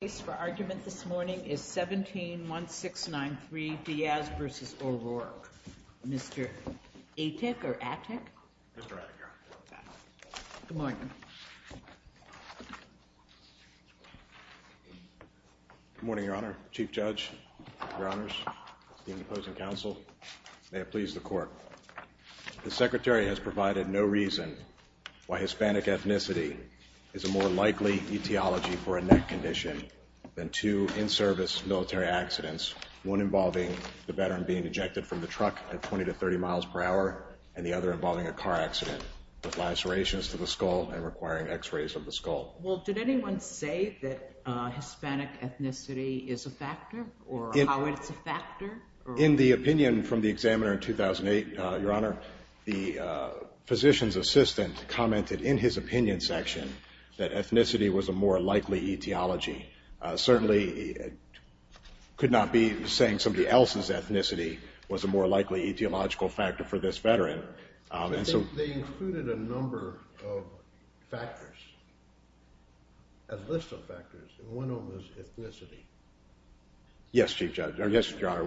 The case for argument this morning is 17-1693 Diaz v. O'Rourke. Mr. Atek or Atek? Mr. Atek, Your Honor. Good morning. Good morning, Your Honor, Chief Judge, Your Honors, esteemed opposing counsel. May it please the Court. The Secretary has provided no reason why Hispanic ethnicity is a more likely etiology for a neck condition than two in-service military accidents, one involving the veteran being ejected from the truck at 20 to 30 miles per hour and the other involving a car accident with live serrations to the skull and requiring X-rays of the skull. Well, did anyone say that Hispanic ethnicity is a factor or how it's a factor? In the opinion from the examiner in 2008, Your Honor, the physician's assistant commented in his opinion section that ethnicity was a more likely etiology. Certainly could not be saying somebody else's ethnicity was a more likely etiological factor for this veteran. They included a number of factors, a list of factors, and one of them was ethnicity. Yes, Chief Judge. Yes, Your Honor.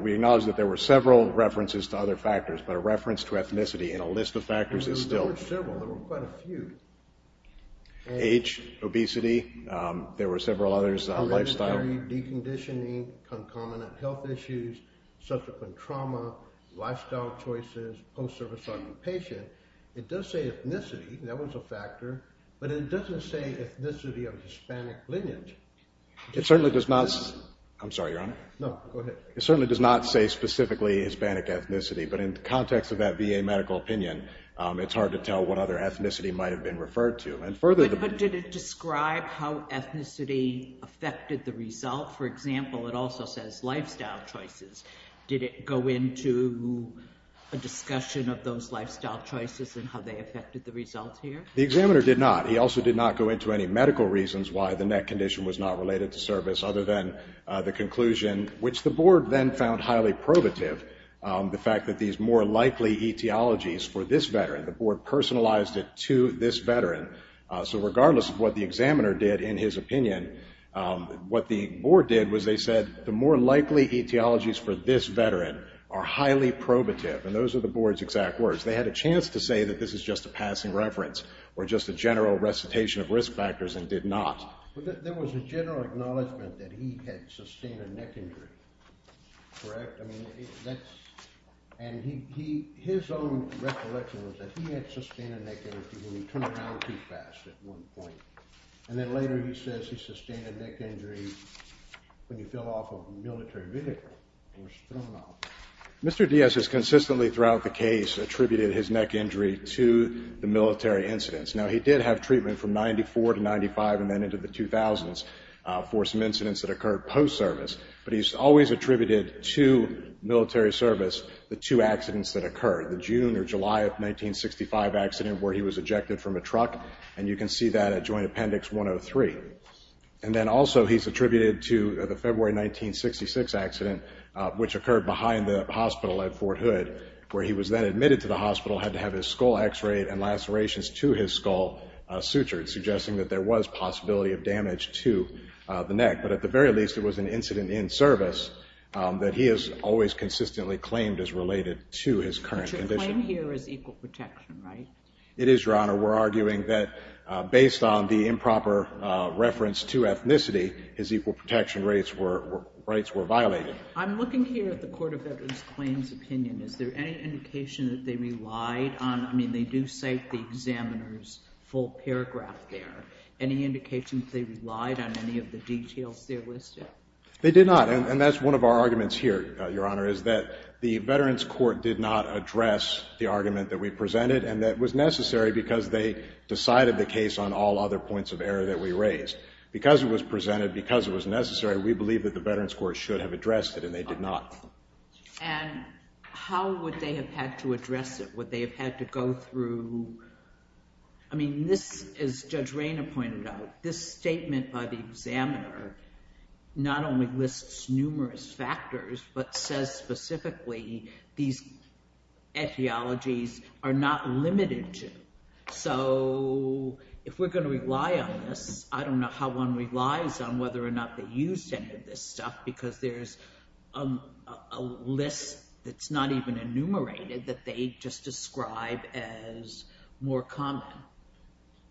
We acknowledge that there were several references to other factors, but a reference to ethnicity in a list of factors is still… There were several. There were quite a few. Age, obesity. There were several others. Lifestyle. Deconditioning, concomitant health issues, subsequent trauma, lifestyle choices, post-service occupation. It does say ethnicity. That was a factor. But it doesn't say ethnicity of Hispanic lineage. It certainly does not… I'm sorry, Your Honor. No, go ahead. It certainly does not say specifically Hispanic ethnicity, but in the context of that VA medical opinion, it's hard to tell what other ethnicity might have been referred to. But did it describe how ethnicity affected the result? For example, it also says lifestyle choices. Did it go into a discussion of those lifestyle choices and how they affected the results here? The examiner did not. He also did not go into any medical reasons why the neck condition was not related to service other than the conclusion, which the board then found highly probative, the fact that these more likely etiologies for this veteran. The board personalized it to this veteran. So regardless of what the examiner did in his opinion, what the board did was they said the more likely etiologies for this veteran are highly probative. And those are the board's exact words. They had a chance to say that this is just a passing reference or just a general recitation of risk factors and did not. But there was a general acknowledgment that he had sustained a neck injury, correct? I mean, that's… And his own recollection was that he had sustained a neck injury when he turned around too fast at one point. And then later he says he sustained a neck injury when he fell off a military vehicle and was thrown off. Mr. Diaz has consistently throughout the case attributed his neck injury to the military incidents. Now, he did have treatment from 94 to 95 and then into the 2000s for some incidents that occurred post-service. But he's always attributed to military service the two accidents that occurred, the June or July of 1965 accident where he was ejected from a truck. And you can see that at Joint Appendix 103. And then also he's attributed to the February 1966 accident, which occurred behind the hospital at Fort Hood, where he was then admitted to the hospital, had to have his skull x-rayed and lacerations to his skull sutured, suggesting that there was possibility of damage to the neck. But at the very least, it was an incident in service that he has always consistently claimed is related to his current condition. But your claim here is equal protection, right? It is, Your Honor. We're arguing that based on the improper reference to ethnicity, his equal protection rights were violated. I'm looking here at the Court of Veterans Claims opinion. Is there any indication that they relied on – I mean, they do cite the examiner's full paragraph there. Any indication that they relied on any of the details there listed? They did not. And that's one of our arguments here, Your Honor, is that the Veterans Court did not address the argument that we presented and that was necessary because they decided the case on all other points of error that we raised. Because it was presented, because it was necessary, we believe that the Veterans Court should have addressed it, and they did not. And how would they have had to address it? Would they have had to go through – I mean, this, as Judge Rayner pointed out, this statement by the examiner not only lists numerous factors, but says specifically these etiologies are not limited to. So if we're going to rely on this, I don't know how one relies on whether or not they used any of this stuff because there's a list that's not even enumerated that they just describe as more common.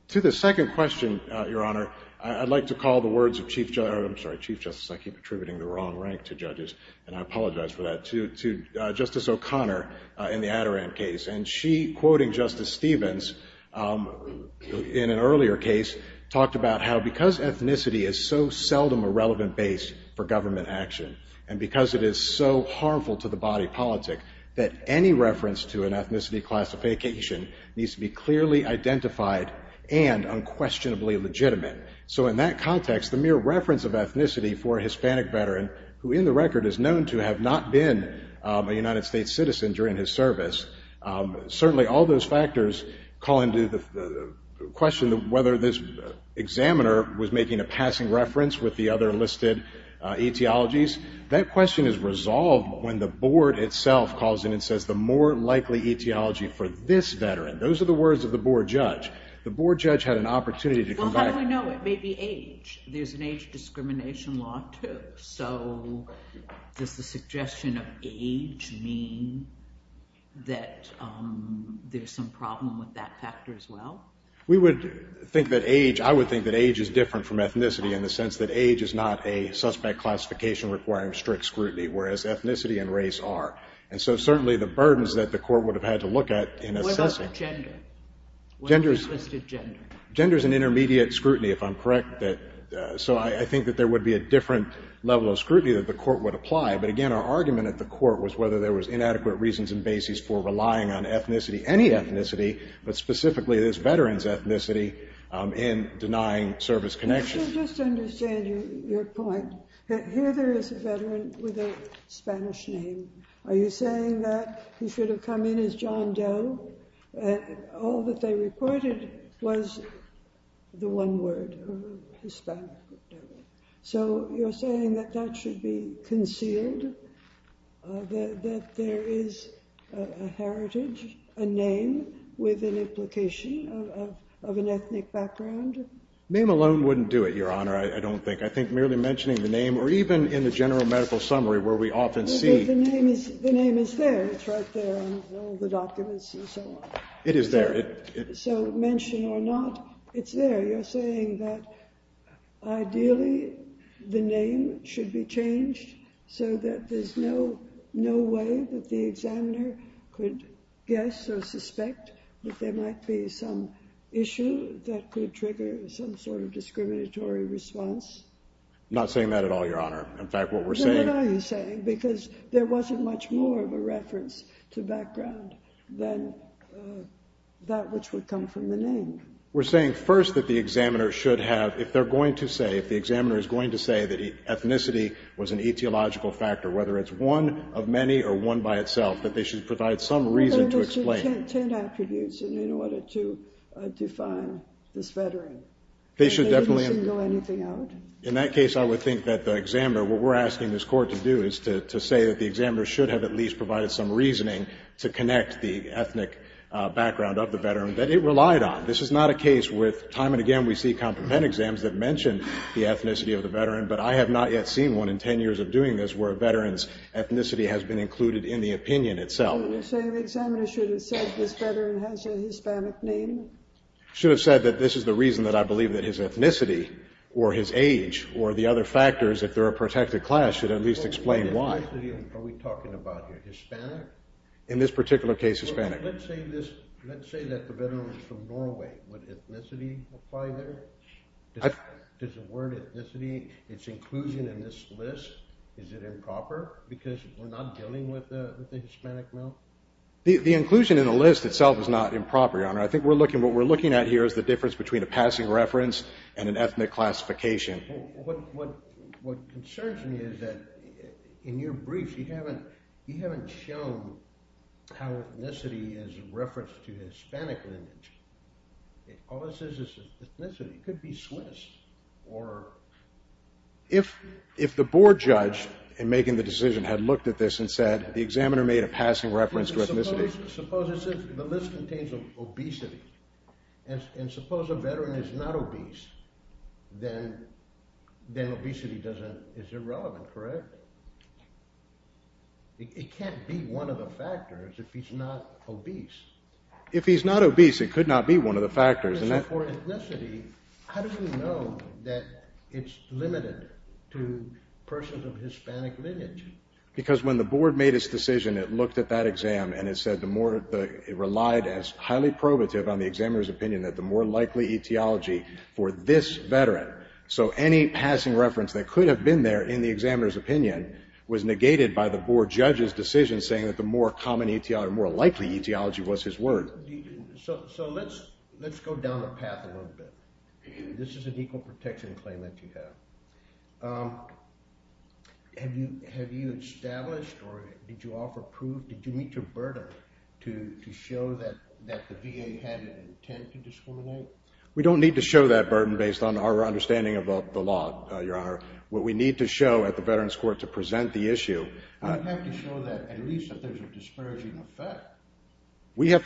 To the second question, Your Honor, I'd like to call the words of Chief – I'm sorry, Chief Justice, I keep attributing the wrong rank to judges, and I apologize for that – to Justice O'Connor in the Adoram case. And she, quoting Justice Stevens in an earlier case, talked about how because ethnicity is so seldom a relevant base for government action and because it is so harmful to the body politic that any reference to an ethnicity classification needs to be clearly identified and unquestionably legitimate. So in that context, the mere reference of ethnicity for a Hispanic veteran, who in the record is known to have not been a United States citizen during his service, certainly all those factors call into question whether this examiner was making a passing reference with the other listed etiologies. That question is resolved when the Board itself calls in and says the more likely etiology for this veteran. Those are the words of the Board judge. The Board judge had an opportunity to come back – Well, how do we know? It may be age. There's an age discrimination law, too. So does the suggestion of age mean that there's some problem with that factor as well? We would think that age – I would think that age is different from ethnicity in the sense that age is not a suspect classification requiring strict scrutiny, whereas ethnicity and race are. And so certainly the burdens that the court would have had to look at in assessing – What about gender? What is listed gender? Gender is an intermediate scrutiny, if I'm correct. So I think that there would be a different level of scrutiny that the court would apply. But again, our argument at the court was whether there was inadequate reasons and basis for relying on ethnicity, any ethnicity, but specifically this veteran's ethnicity, in denying service connection. Let me just understand your point. Here there is a veteran with a Spanish name. Are you saying that he should have come in as John Doe? All that they reported was the one word, Hispanic. So you're saying that that should be concealed, that there is a heritage, a name with an implication of an ethnic background? Name alone wouldn't do it, Your Honor, I don't think. I think merely mentioning the name or even in the general medical summary where we often see – The name is there. It's right there in all the documents and so on. It is there. So mention or not, it's there. You're saying that ideally the name should be changed so that there's no way that the examiner could guess or suspect that there might be some issue that could trigger some sort of discriminatory response? I'm not saying that at all, Your Honor. In fact, what we're saying – Then what are you saying? Because there wasn't much more of a reference to background than that which would come from the name. We're saying first that the examiner should have, if they're going to say, if the examiner is going to say that ethnicity was an etiological factor, whether it's one of many or one by itself, that they should provide some reason to explain – There must be ten attributes in order to define this veteran. They shouldn't go anything out? In that case, I would think that the examiner – what we're asking this Court to do is to say that the examiner should have at least provided some reasoning to connect the ethnic background of the veteran that it relied on. This is not a case with time and again we see complement exams that mention the ethnicity of the veteran, but I have not yet seen one in ten years of doing this where a veteran's ethnicity has been included in the opinion itself. So the examiner should have said this veteran has a Hispanic name? Should have said that this is the reason that I believe that his ethnicity or his age or the other factors, if they're a protected class, should at least explain why. In this particular case, Hispanic. The inclusion in the list itself is not improper, Your Honor. I think what we're looking at here is the difference between a passing reference and an ethnic classification. If the board judge in making the decision had looked at this and said, the examiner made a passing reference to ethnicity – and suppose a veteran is not obese, then obesity is irrelevant, correct? It can't be one of the factors if he's not obese. If he's not obese, it could not be one of the factors. Because when the board made its decision, it looked at that exam and it said the more likely etiology for this veteran. So any passing reference that could have been there in the examiner's opinion was negated by the board judge's decision saying that the more likely etiology was his word. So let's go down the path a little bit. This is an equal protection claim that you have. Have you established or did you offer proof? Did you meet your burden to show that the VA had an intent to discriminate? You have to show that at least that there's a disparaging effect. So you have to tie the comment or the ethnicity. You have to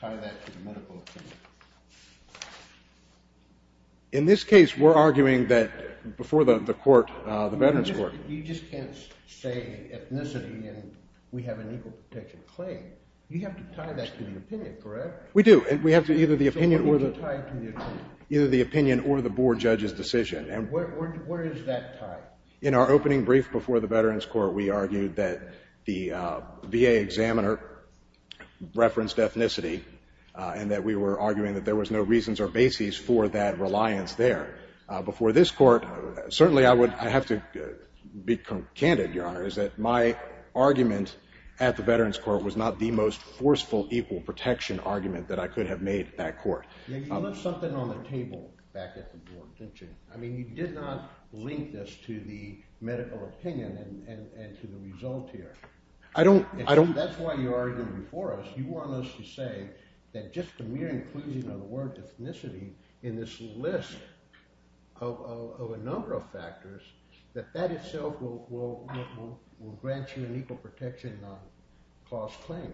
tie that to the medical opinion. You just can't say ethnicity and we have an equal protection claim. You have to tie that to the opinion, correct? We do and we have to either the opinion or the board judge's decision. Where is that tied? In our opening brief before the Veterans Court, we argued that the VA examiner referenced ethnicity and that we were arguing that there was no reasons or bases for that reliance there. Before this court, certainly I have to be candid, Your Honor, is that my argument at the Veterans Court was not the most forceful equal protection argument that I could have made at court. You left something on the table back at the board, didn't you? I mean, you did not link this to the medical opinion and to the result here. That's why you argued before us. You want us to say that just a mere inclusion of the word ethnicity in this list of a number of factors, that that itself will grant you an equal protection clause claim.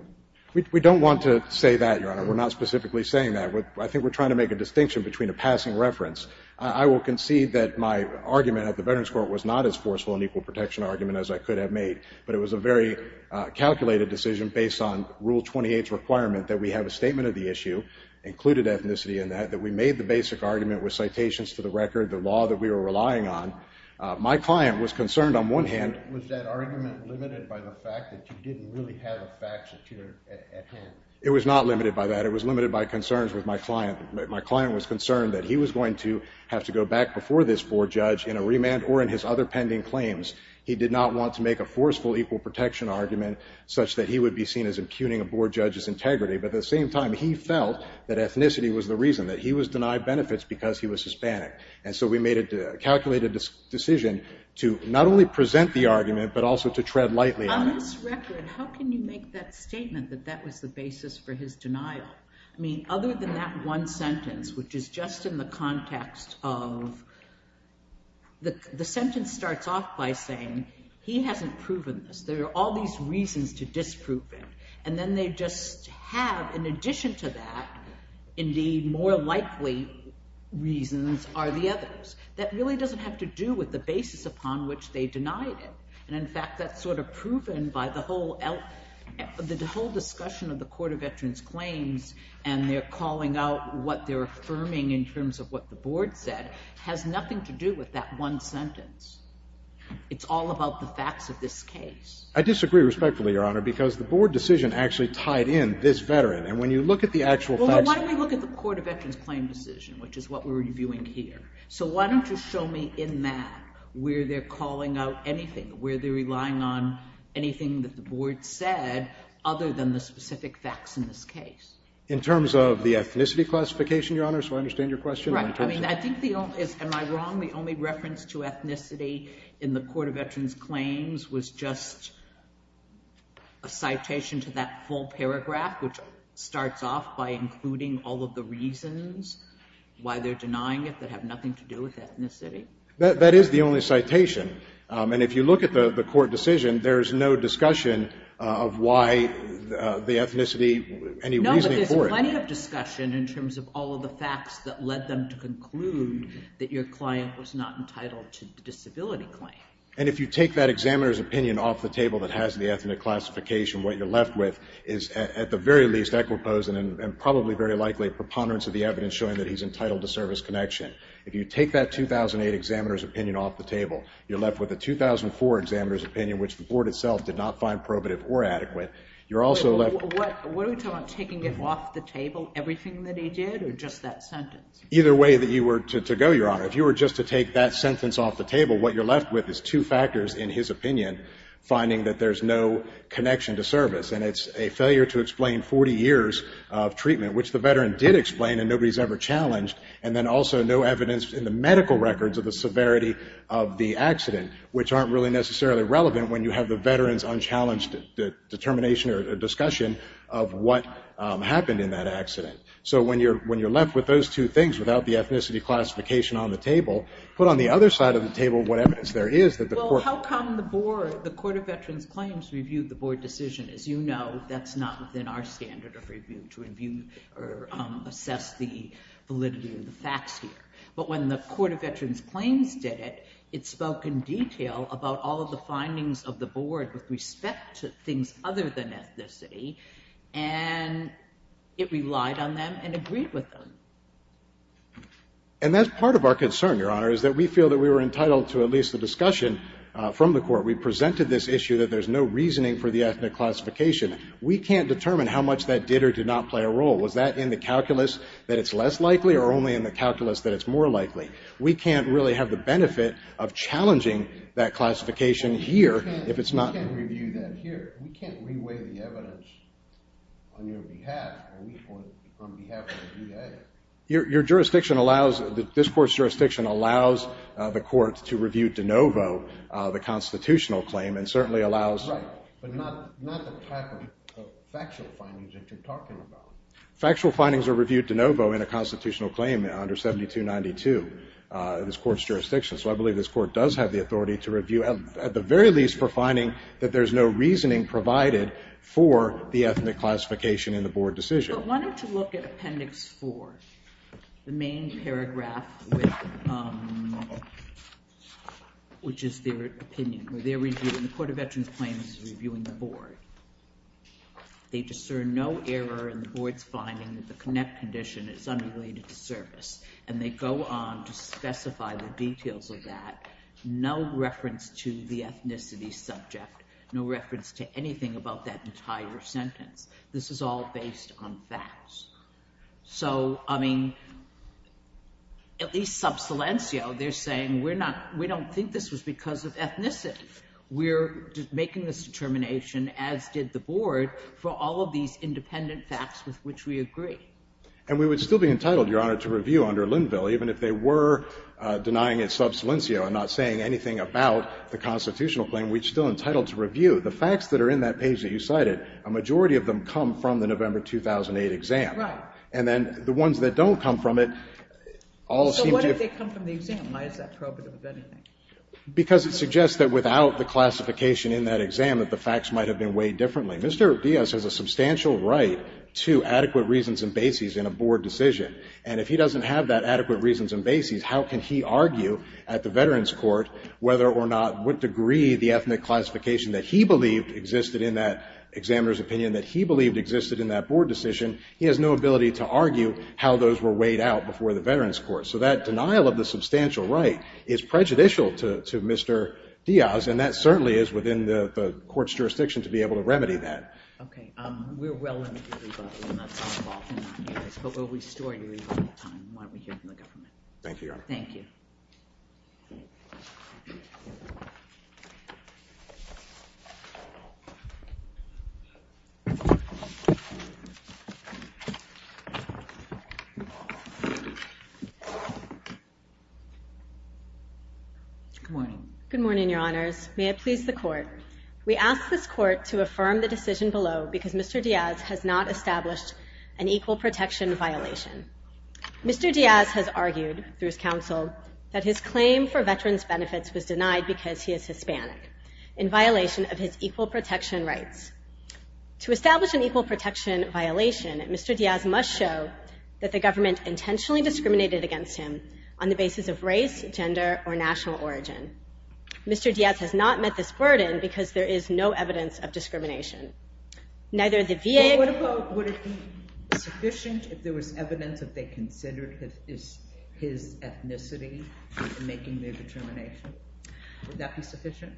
We don't want to say that, Your Honor. We're not specifically saying that. I think we're trying to make a distinction between a passing reference. I will concede that my argument at the Veterans Court was not as forceful an equal protection argument as I could have made, but it was a very calculated decision based on Rule 28's requirement that we have a statement of the issue, included ethnicity in that, that we made the basic argument with citations to the record, the law that we were relying on. My client was concerned on one hand. Was that argument limited by the fact that you didn't really have a fact secure at hand? It was not limited by that. It was limited by concerns with my client. My client was concerned that he was going to have to go back before this board judge in a remand or in his other pending claims. He did not want to make a forceful equal protection argument such that he would be seen as impugning a board judge's integrity. But at the same time, he felt that ethnicity was the reason, that he was denied benefits because he was Hispanic. And so we made a calculated decision to not only present the argument, but also to tread lightly on it. On this record, how can you make that statement that that was the basis for his denial? I mean, other than that one sentence, which is just in the context of, the sentence starts off by saying, he hasn't proven this. There are all these reasons to disprove it. And then they just have, in addition to that, indeed, more likely reasons are the others. That really doesn't have to do with the basis upon which they denied it. And, in fact, that's sort of proven by the whole discussion of the Court of Veterans Claims and their calling out what they're affirming in terms of what the board said has nothing to do with that one sentence. It's all about the facts of this case. I disagree respectfully, Your Honor, because the board decision actually tied in this veteran. And when you look at the actual facts of it. Well, then why don't we look at the Court of Veterans Claims decision, which is what we're reviewing here. So why don't you show me in that where they're calling out anything, where they're relying on anything that the board said, other than the specific facts in this case. In terms of the ethnicity classification, Your Honor, so I understand your question. Right. I mean, I think the only – am I wrong? The only reference to ethnicity in the Court of Veterans Claims was just a citation to that full paragraph, which starts off by including all of the reasons why they're denying it that have nothing to do with ethnicity. That is the only citation. And if you look at the court decision, there is no discussion of why the ethnicity, any reasoning for it. No, but there's plenty of discussion in terms of all of the facts that led them to conclude that your client was not entitled to the disability claim. And if you take that examiner's opinion off the table that has the ethnic classification, what you're left with is at the very least equiposant and probably very likely preponderance of the evidence showing that he's entitled to service connection. If you take that 2008 examiner's opinion off the table, you're left with a 2004 examiner's opinion, which the board itself did not find probative or adequate. You're also left – What are we talking about, taking it off the table, everything that he did, or just that sentence? Either way that you were to go, Your Honor. If you were just to take that sentence off the table, what you're left with is two factors in his opinion, finding that there's no connection to service. And it's a failure to explain 40 years of treatment, which the veteran did explain and nobody's ever challenged, and then also no evidence in the medical records of the severity of the accident, which aren't really necessarily relevant when you have the veteran's unchallenged determination or discussion of what happened in that accident. So when you're left with those two things without the ethnicity classification on the table, put on the other side of the table what evidence there is that the court – The Court of Veterans Claims reviewed the board decision. As you know, that's not within our standard of review to review or assess the validity of the facts here. But when the Court of Veterans Claims did it, it spoke in detail about all of the findings of the board with respect to things other than ethnicity, and it relied on them and agreed with them. And that's part of our concern, Your Honor, is that we feel that we were entitled to at least a discussion from the court. We presented this issue that there's no reasoning for the ethnic classification. We can't determine how much that did or did not play a role. Was that in the calculus that it's less likely or only in the calculus that it's more likely? We can't really have the benefit of challenging that classification here if it's not – We can't review that here. We can't re-weigh the evidence on your behalf or on behalf of the VA. Your jurisdiction allows – this court's jurisdiction allows the court to review de novo the constitutional claim and certainly allows – Right, but not the type of factual findings that you're talking about. Factual findings are reviewed de novo in a constitutional claim under 7292, this court's jurisdiction. So I believe this court does have the authority to review, at the very least, for finding that there's no reasoning provided for the ethnic classification in the board decision. But why don't you look at Appendix 4, the main paragraph, which is their opinion, where they're reviewing – the Court of Veterans Claims is reviewing the board. They discern no error in the board's finding that the connect condition is unrelated to service, and they go on to specify the details of that, no reference to the ethnicity subject, no reference to anything about that entire sentence. This is all based on facts. So, I mean, at least sub silencio, they're saying we're not – we don't think this was because of ethnicity. We're making this determination, as did the board, for all of these independent facts with which we agree. And we would still be entitled, Your Honor, to review under Linville, even if they were denying it sub silencio and not saying anything about the constitutional claim. We're still entitled to review. The facts that are in that page that you cited, a majority of them come from the November 2008 exam. Right. And then the ones that don't come from it all seem to be – So what if they come from the exam? Why is that probative of anything? Because it suggests that without the classification in that exam that the facts might have been weighed differently. Mr. Diaz has a substantial right to adequate reasons and bases in a board decision. And if he doesn't have that adequate reasons and bases, how can he argue at the Veterans Court whether or not what degree the ethnic classification that he believed existed in that examiner's opinion, that he believed existed in that board decision, he has no ability to argue how those were weighed out before the Veterans Court. So that denial of the substantial right is prejudicial to Mr. Diaz, and that certainly is within the court's jurisdiction to be able to remedy that. Okay. We're well into the rebuttal, and that's all involved in that case. But we'll restore your rebuttal time while we hear from the government. Thank you, Your Honor. Thank you. Thank you. Good morning. Good morning, Your Honors. May it please the Court. We ask this Court to affirm the decision below because Mr. Diaz has not established an equal protection violation. Mr. Diaz has argued through his counsel that his claim for veterans' benefits was denied because he is Hispanic in violation of his equal protection rights. To establish an equal protection violation, Mr. Diaz must show that the government intentionally discriminated against him on the basis of race, gender, or national origin. Mr. Diaz has not met this burden because there is no evidence of discrimination. Would it be sufficient if there was evidence that they considered his ethnicity in making their determination? Would that be sufficient?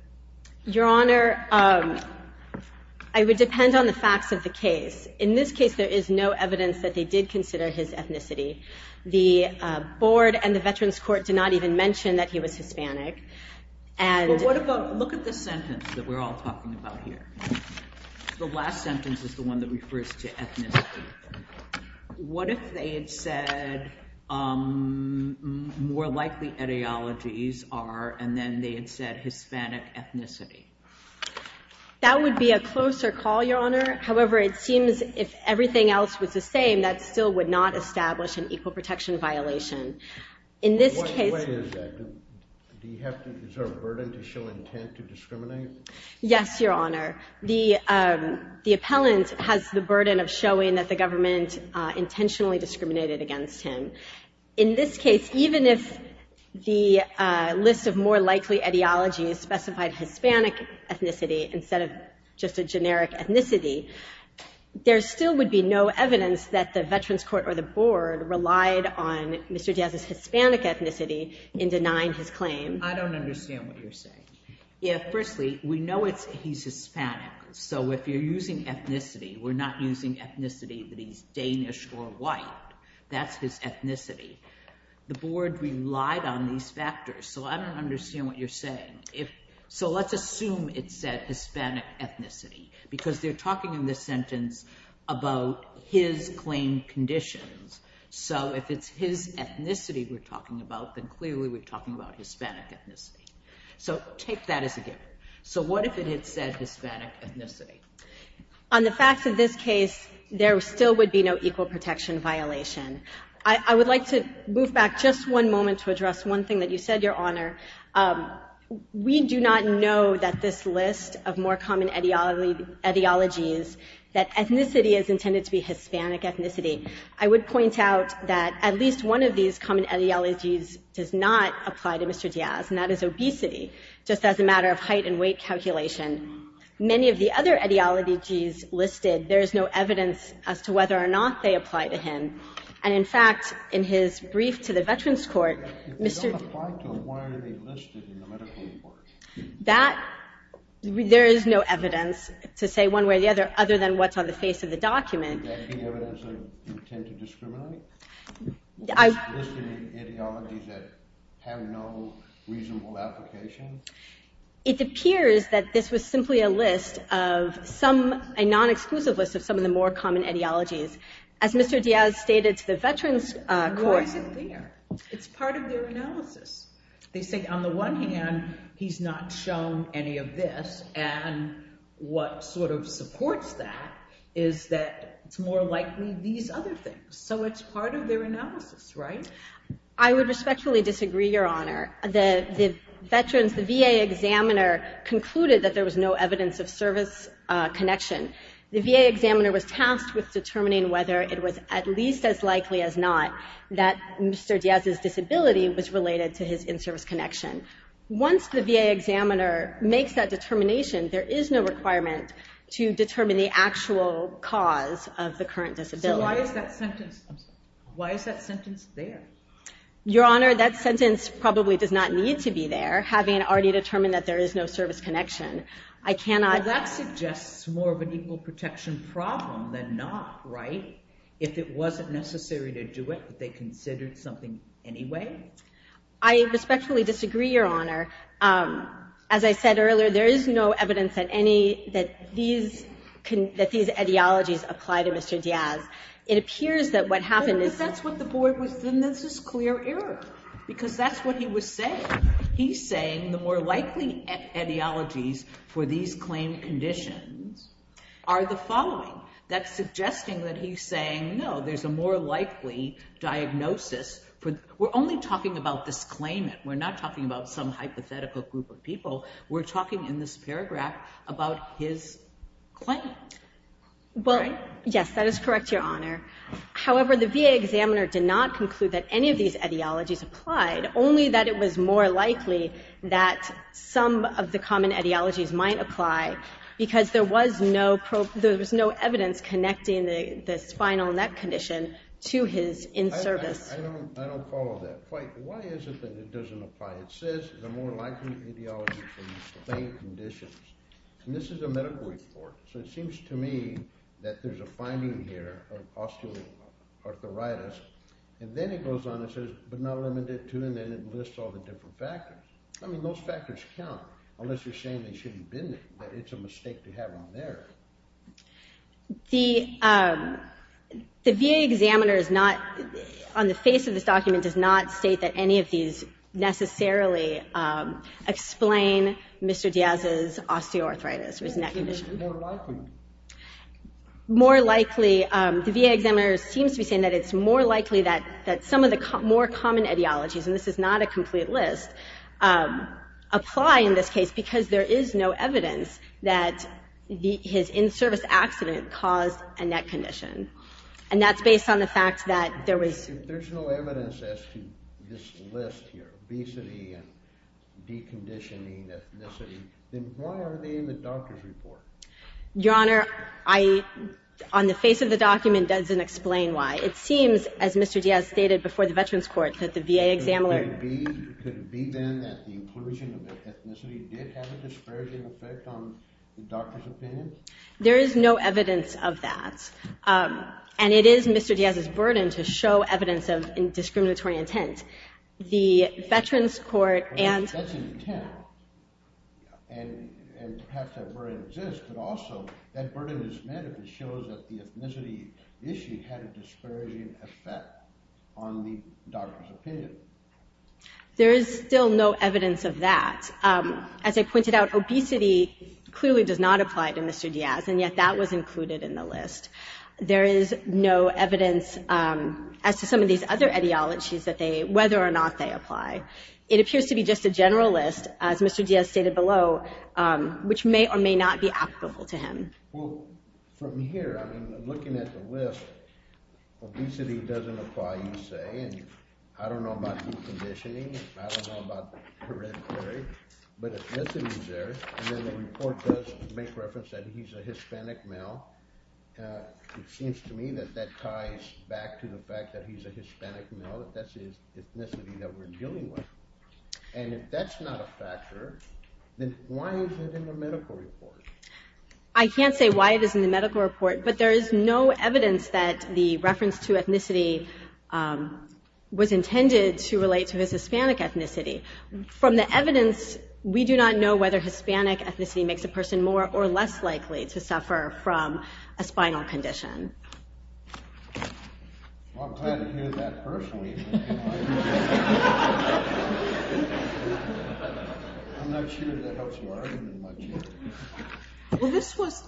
Your Honor, I would depend on the facts of the case. In this case, there is no evidence that they did consider his ethnicity. The Board and the Veterans Court did not even mention that he was Hispanic. Look at the sentence that we're all talking about here. The last sentence is the one that refers to ethnicity. What if they had said, more likely etiologies are, and then they had said Hispanic ethnicity? That would be a closer call, Your Honor. However, it seems if everything else was the same, that still would not establish an equal protection violation. What is that? Do you have to exert a burden to show intent to discriminate? Yes, Your Honor. The appellant has the burden of showing that the government intentionally discriminated against him. In this case, even if the list of more likely etiologies specified Hispanic ethnicity instead of just a generic ethnicity, there still would be no evidence that the Veterans Court or the Board relied on Mr. Diaz's Hispanic ethnicity in denying his claim. I don't understand what you're saying. Firstly, we know he's Hispanic, so if you're using ethnicity, we're not using ethnicity that he's Danish or white. That's his ethnicity. The Board relied on these factors, so I don't understand what you're saying. Let's assume it said Hispanic ethnicity because they're talking in this sentence about his claim conditions. If it's his ethnicity we're talking about, then clearly we're talking about Hispanic ethnicity. Take that as a given. What if it had said Hispanic ethnicity? On the facts of this case, there still would be no equal protection violation. I would like to move back just one moment to address one thing that you said, Your Honor. We do not know that this list of more common etiologies, that ethnicity is intended to be Hispanic ethnicity. I would point out that at least one of these common etiologies does not apply to Mr. Diaz, and that is obesity, just as a matter of height and weight calculation. Many of the other etiologies listed, there is no evidence as to whether or not they apply to him. And, in fact, in his brief to the Veterans Court, Mr. That, there is no evidence to say one way or the other other than what's on the face of the document. It appears that this was simply a list of some, a non-exclusive list of some of the more common etiologies. As Mr. Diaz stated to the Veterans Court. Why is it there? It's part of their analysis. They say, on the one hand, he's not shown any of this. And what sort of supports that is that it's more likely these other things. So it's part of their analysis, right? I would respectfully disagree, Your Honor. The Veterans, the VA examiner concluded that there was no evidence of service connection. The VA examiner was tasked with determining whether it was at least as likely as not that Mr. Diaz's disability was related to his in-service connection. Once the VA examiner makes that determination, there is no requirement to determine the actual cause of the current disability. So why is that sentence there? Your Honor, that sentence probably does not need to be there, having already determined that there is no service connection. Well, that suggests more of an equal protection problem than not, right? If it wasn't necessary to do it, but they considered something anyway? I respectfully disagree, Your Honor. As I said earlier, there is no evidence that these etiologies apply to Mr. Diaz. It appears that what happened is that's what the board was doing. This is clear error because that's what he was saying. He's saying the more likely etiologies for these claim conditions are the following. That's suggesting that he's saying, no, there's a more likely diagnosis. We're only talking about this claimant. We're not talking about some hypothetical group of people. We're talking in this paragraph about his claim. Well, yes, that is correct, Your Honor. However, the VA examiner did not conclude that any of these etiologies applied, only that it was more likely that some of the common etiologies might apply because there was no evidence connecting the spinal neck condition to his in-service. I don't follow that quite. Why is it that it doesn't apply? It says the more likely etiology for these claim conditions. And this is a medical report. So it seems to me that there's a finding here of osteoarthritis. And then it goes on and says, but not limited to, and then it lists all the different factors. I mean, those factors count, unless you're saying they shouldn't have been there, that it's a mistake to have them there. The VA examiner is not, on the face of this document, does not state that any of these necessarily explain Mr. Diaz's osteoarthritis, his neck condition. More likely. The VA examiner seems to be saying that it's more likely that some of the more common etiologies, and this is not a complete list, apply in this case because there is no evidence that his in-service accident caused a neck condition. And that's based on the fact that there was. If there's no evidence as to this list here, obesity and deconditioning, then why are they in the doctor's report? Your Honor, I, on the face of the document, doesn't explain why. It seems, as Mr. Diaz stated before the Veterans Court, that the VA examiner Could it be then that the inclusion of ethnicity did have a disparaging effect on the doctor's opinion? There is no evidence of that. And it is Mr. Diaz's burden to show evidence of discriminatory intent. The Veterans Court and That's an intent, and perhaps that burden exists, but also that burden is met if it shows that the ethnicity issue had a disparaging effect on the doctor's opinion. There is still no evidence of that. As I pointed out, obesity clearly does not apply to Mr. Diaz, and yet that was included in the list. There is no evidence as to some of these other etiologies that they, whether or not they apply. It appears to be just a general list, as Mr. Diaz stated below, which may or may not be applicable to him. Well, from here, I mean, looking at the list, obesity doesn't apply, you say, and I don't know about deconditioning, I don't know about hereditary, but ethnicity is there, and then the report does make reference that he's a Hispanic male. It seems to me that that ties back to the fact that he's a Hispanic male, that that's his ethnicity that we're dealing with. And if that's not a factor, then why is it in the medical report? I can't say why it is in the medical report, but there is no evidence that the reference to ethnicity was intended to relate to his Hispanic ethnicity. From the evidence, we do not know whether Hispanic ethnicity makes a person more or less likely to suffer from a spinal condition. Well, I'm glad to hear that personally. I'm not sure that helps your argument much here. Well, this was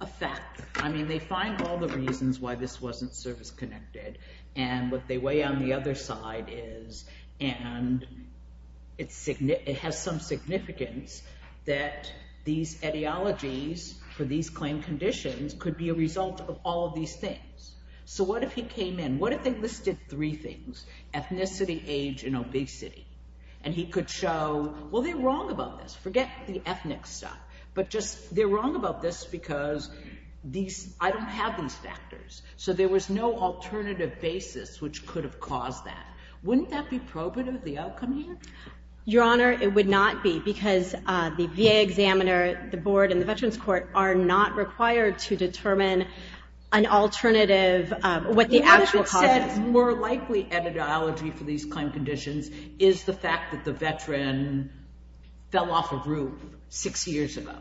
a fact. I mean, they find all the reasons why this wasn't service-connected, and what they weigh on the other side is, and it has some significance that these etiologies for these claim conditions could be a result of all of these things. So what if he came in? What if they listed three things, ethnicity, age, and obesity, and he could show, well, they're wrong about this. Forget the ethnic stuff, but just they're wrong about this because I don't have these factors. So there was no alternative basis which could have caused that. Wouldn't that be probative of the outcome here? Your Honor, it would not be because the VA examiner, the board, and the Veterans Court are not required to determine an alternative. What the attitude said is more likely etiology for these claim conditions is the fact that the veteran fell off a roof six years ago.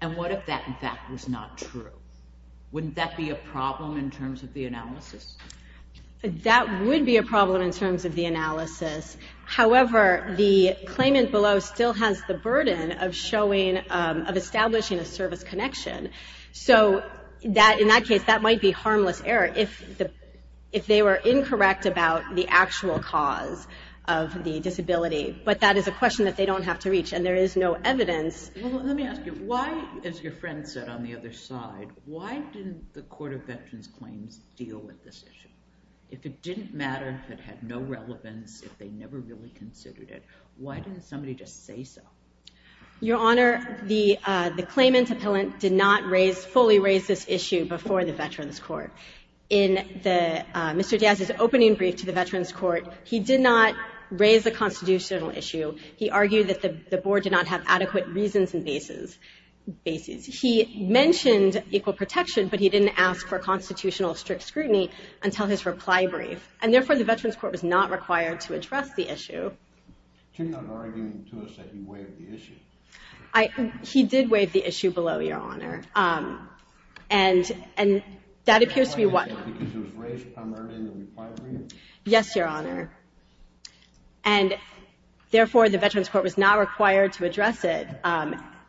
And what if that, in fact, was not true? Wouldn't that be a problem in terms of the analysis? That would be a problem in terms of the analysis. However, the claimant below still has the burden of showing, of establishing a service connection. So in that case, that might be harmless error if they were incorrect about the actual cause of the disability. But that is a question that they don't have to reach, and there is no evidence. Well, let me ask you, why, as your friend said on the other side, why didn't the Court of Veterans Claims deal with this issue? If it didn't matter, if it had no relevance, if they never really considered it, why didn't somebody just say so? Your Honor, the claimant appellant did not raise, fully raise this issue before the Veterans Court. In Mr. Diaz's opening brief to the Veterans Court, he did not raise a constitutional issue. He argued that the board did not have adequate reasons and basis. He mentioned equal protection, but he didn't ask for constitutional strict scrutiny until his reply brief. And therefore, the Veterans Court was not required to address the issue. You're not arguing to us that he waived the issue. He did waive the issue below, Your Honor. And that appears to be why. Because it was raised primarily in the reply brief? Yes, Your Honor. And therefore, the Veterans Court was not required to address it.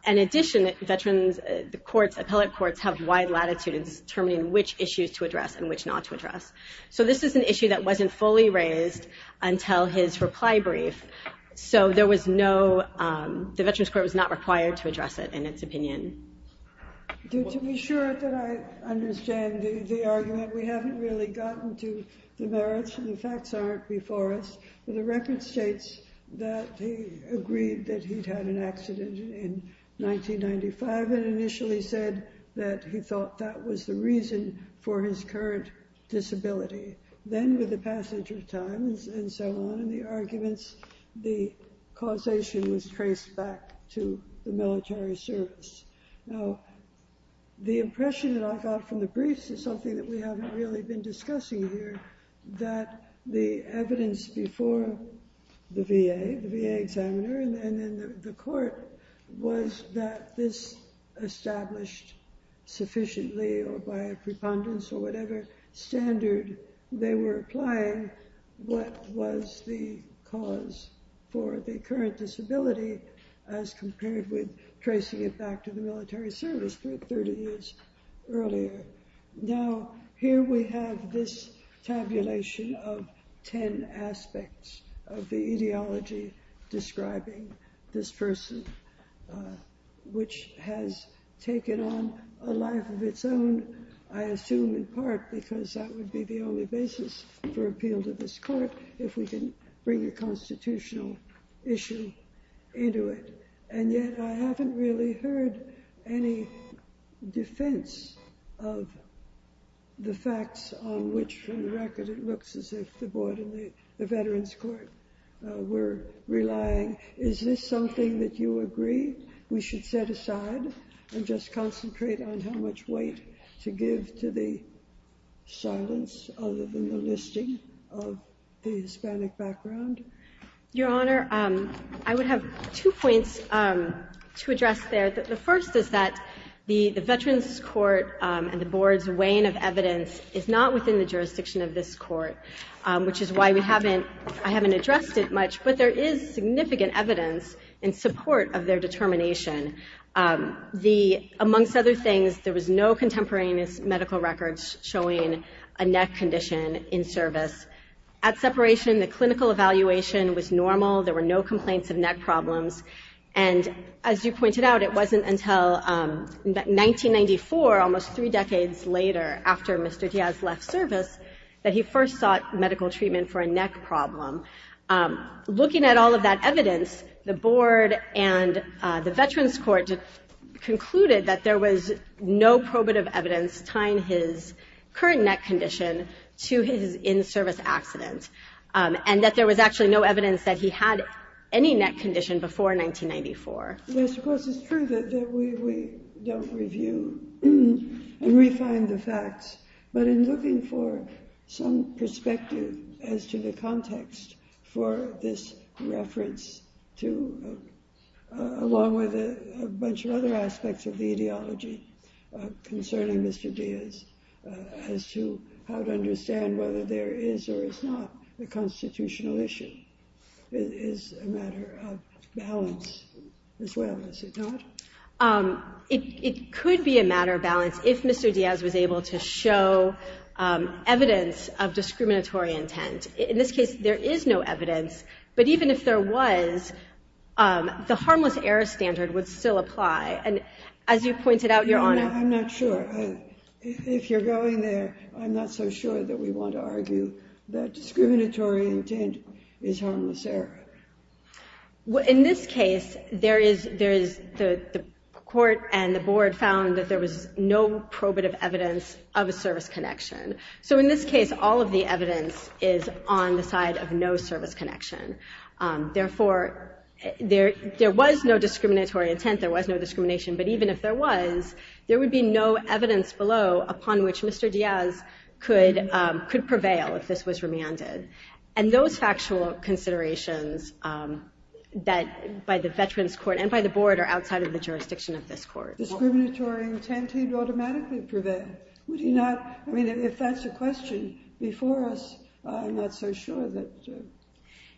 In addition, the courts, appellate courts, have wide latitude in determining which issues to address and which not to address. So this is an issue that wasn't fully raised until his reply brief. So there was no, the Veterans Court was not required to address it in its opinion. To be sure that I understand the argument, we haven't really gotten to the merits. The facts aren't before us. The record states that he agreed that he'd had an accident in 1995 and initially said that he thought that was the reason for his current disability. Then with the passage of time and so on and the arguments, the causation was traced back to the military service. Now, the impression that I got from the briefs is something that we haven't really been discussing here, that the evidence before the VA, the VA examiner, and then the court, was that this established sufficiently or by a preponderance or whatever standard they were applying, what was the cause for the current disability as compared with tracing it back to the military service for 30 years earlier. Now, here we have this tabulation of 10 aspects of the ideology describing this person, which has taken on a life of its own, I assume in part, because that would be the only basis for appeal to this court if we can bring a constitutional issue into it. And yet I haven't really heard any defense of the facts on which, for the record, it looks as if the board and the veterans court were relying. Is this something that you agree we should set aside and just concentrate on how much weight to give to the silence other than the listing of the Hispanic background? Your Honor, I would have two points to address there. The first is that the veterans court and the board's weighing of evidence is not within the jurisdiction of this court, which is why I haven't addressed it much, but there is significant evidence in support of their determination. Amongst other things, there was no contemporaneous medical records showing a neck condition in service. At separation, the clinical evaluation was normal. There were no complaints of neck problems. And as you pointed out, it wasn't until 1994, almost three decades later after Mr. Diaz left service, that he first sought medical treatment for a neck problem. Looking at all of that evidence, the board and the veterans court concluded that there was no probative evidence tying his current neck condition to his in-service accident and that there was actually no evidence that he had any neck condition before 1994. Yes, of course, it's true that we don't review and refine the facts, but in looking for some perspective as to the context for this reference along with a bunch of other aspects of the ideology concerning Mr. Diaz as to how to understand whether there is or is not a constitutional issue is a matter of balance as well, is it not? It could be a matter of balance if Mr. Diaz was able to show evidence of discriminatory intent. In this case, there is no evidence, but even if there was, the harmless error standard would still apply. And as you pointed out, Your Honor... I'm not sure. If you're going there, I'm not so sure that we want to argue that discriminatory intent is harmless error. In this case, the court and the board found that there was no probative evidence of a service connection. So in this case, all of the evidence is on the side of no service connection. Therefore, there was no discriminatory intent, there was no discrimination, but even if there was, there would be no evidence below upon which Mr. Diaz could prevail if this was remanded. And those factual considerations by the Veterans Court and by the board are outside of the jurisdiction of this court. Discriminatory intent, he'd automatically prevail. Would he not? I mean, if that's the question before us, I'm not so sure that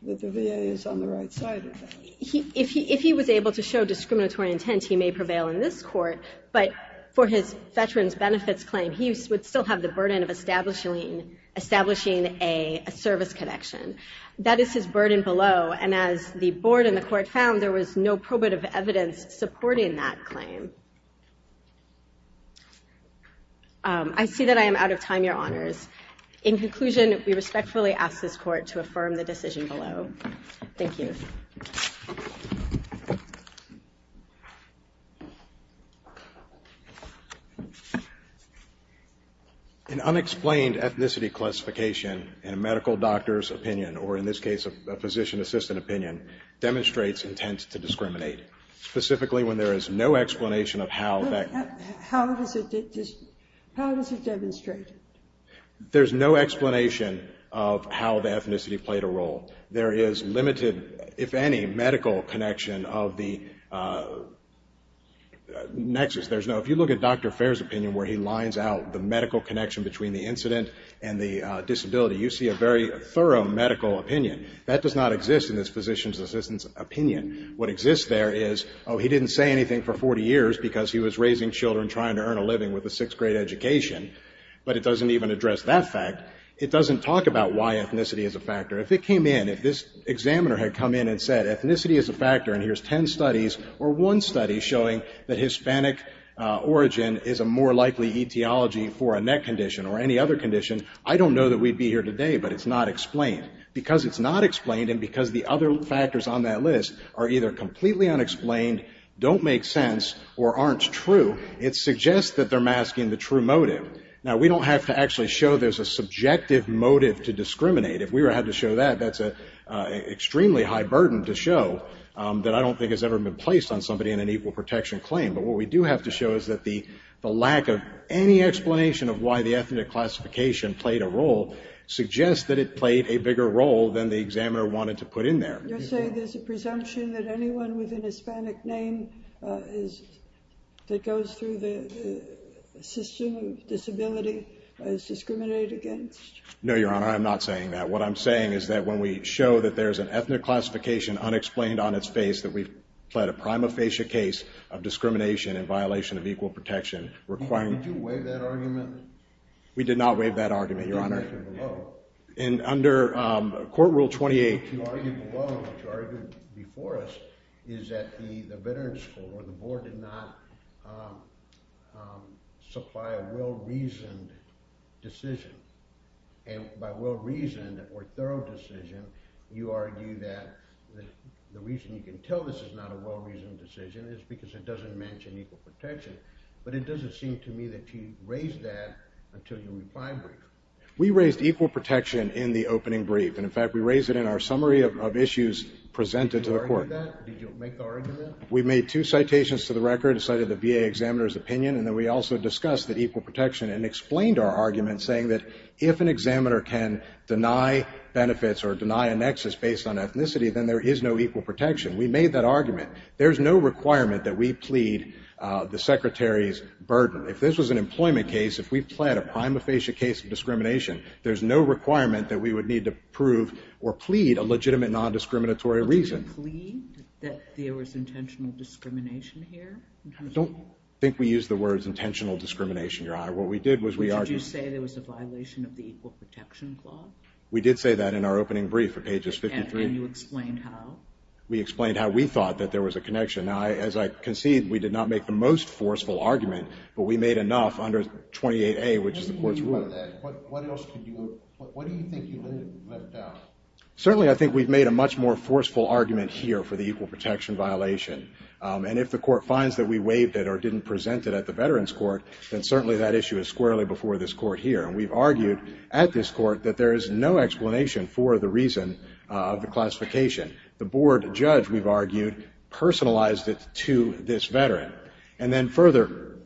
the VA is on the right side of that. If he was able to show discriminatory intent, he may prevail in this court, but for his Veterans Benefits claim, he would still have the burden of establishing a service connection. That is his burden below, and as the board and the court found, there was no probative evidence supporting that claim. I see that I am out of time, Your Honors. In conclusion, we respectfully ask this court to affirm the decision below. Thank you. An unexplained ethnicity classification in a medical doctor's opinion, or in this case a physician assistant opinion, demonstrates intent to discriminate, specifically when there is no explanation of how that... How does it demonstrate? There's no explanation of how the ethnicity played a role. There is limited, if any, medical connection of the nexus. There's no... If you look at Dr. Fair's opinion where he lines out the medical connection between the incident and the disability, you see a very thorough medical opinion. That does not exist in this physician's assistant's opinion. What exists there is, oh, he didn't say anything for 40 years because he was raising children trying to earn a living with a sixth-grade education, but it doesn't even address that fact. It doesn't talk about why ethnicity is a factor. If it came in, if this examiner had come in and said, ethnicity is a factor and here's 10 studies or one study showing that Hispanic origin is a more likely etiology for a neck condition or any other condition, I don't know that we'd be here today, but it's not explained. Because it's not explained and because the other factors on that list are either completely unexplained, don't make sense, or aren't true, it suggests that they're masking the true motive. Now, we don't have to actually show there's a subjective motive to discriminate. If we were to have to show that, that's an extremely high burden to show that I don't think has ever been placed on somebody in an equal protection claim. But what we do have to show is that the lack of any explanation of why the ethnic classification played a role suggests that it played a bigger role than the examiner wanted to put in there. You're saying there's a presumption that anyone with an Hispanic name that goes through the system of disability is discriminated against? No, Your Honor, I'm not saying that. What I'm saying is that when we show that there's an ethnic classification unexplained on its face that we've pled a prima facie case of discrimination in violation of equal protection requiring... Did you waive that argument? We did not waive that argument, Your Honor. And under Court Rule 28... What you argued before us is that the veterans school or the board did not supply a well-reasoned decision. And by well-reasoned or thorough decision, you argue that the reason you can tell this is not a well-reasoned decision is because it doesn't mention equal protection. But it doesn't seem to me that you raised that until you replied briefly. We raised equal protection in the opening brief. And, in fact, we raised it in our summary of issues presented to the Court. Did you argue that? Did you make the argument? We made two citations to the record, cited the VA examiner's opinion, and then we also discussed that equal protection and explained our argument saying that if an examiner can deny benefits or deny a nexus based on ethnicity, then there is no equal protection. We made that argument. There's no requirement that we plead the Secretary's burden. If this was an employment case, if we pled a prima facie case of discrimination, there's no requirement that we would need to prove or plead a legitimate non-discriminatory reason. Did you plead that there was intentional discrimination here? I don't think we used the words intentional discrimination, Your Honor. What we did was we argued... Did you say there was a violation of the equal protection clause? We did say that in our opening brief at pages 53. And you explained how? We explained how we thought that there was a connection. Now, as I concede, we did not make the most forceful argument, but we made enough under 28A, which is the court's rule. What else could you... What do you think you left out? Certainly I think we've made a much more forceful argument here for the equal protection violation. And if the court finds that we waived it or didn't present it at the Veterans Court, then certainly that issue is squarely before this court here. And we've argued at this court that there is no explanation for the reason of the classification. The board judge, we've argued, personalized it to this veteran. And then further,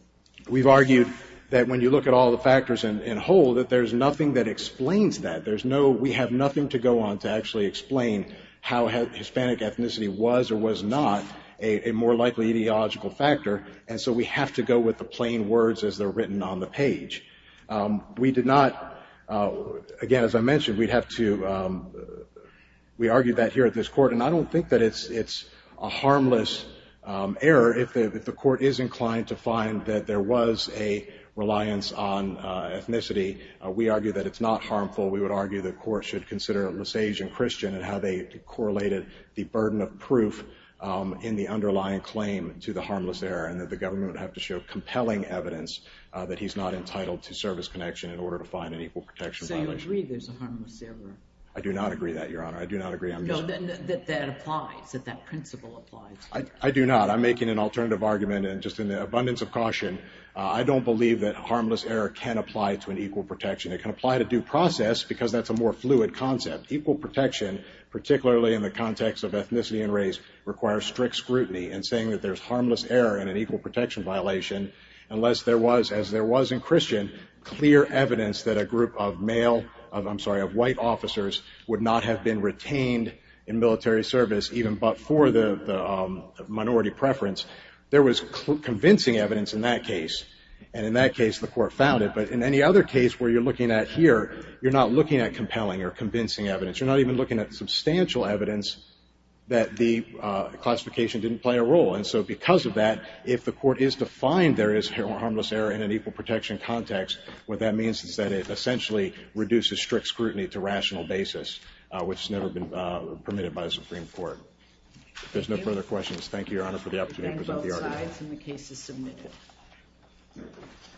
we've argued that when you look at all the factors in whole, that there's nothing that explains that. There's no... We have nothing to go on to actually explain how Hispanic ethnicity was or was not a more likely ideological factor. And so we have to go with the plain words as they're written on the page. We did not... Again, as I mentioned, we'd have to... We argued that here at this court. And I don't think that it's a harmless error if the court is inclined to find that there was a reliance on ethnicity. We argue that it's not harmful. We would argue the court should consider Lesage and Christian and how they correlated the burden of proof in the underlying claim to the harmless error and that the government would have to show compelling evidence that he's not entitled to service connection in order to find an equal protection violation. So you agree there's a harmless error? I do not agree that, Your Honor. I do not agree. No, that applies, that that principle applies. I do not. I'm making an alternative argument. And just in the abundance of caution, I don't believe that harmless error can apply to an equal protection. It can apply to due process because that's a more fluid concept. Equal protection, particularly in the context of ethnicity and race, requires strict scrutiny. And saying that there's harmless error in an equal protection violation, unless there was, as there was in Christian, clear evidence that a group of male... I'm sorry, of white officers would not have been retained in military service even but for the minority preference, there was convincing evidence in that case. And in that case, the court found it. But in any other case where you're looking at here, you're not looking at compelling or convincing evidence. You're not even looking at substantial evidence that the classification didn't play a role. And so because of that, if the court is defined there is harmless error in an equal protection context, what that means is that it essentially reduces strict scrutiny to rational basis, which has never been permitted by the Supreme Court. If there's no further questions, thank you, Your Honor, for the opportunity to present the argument.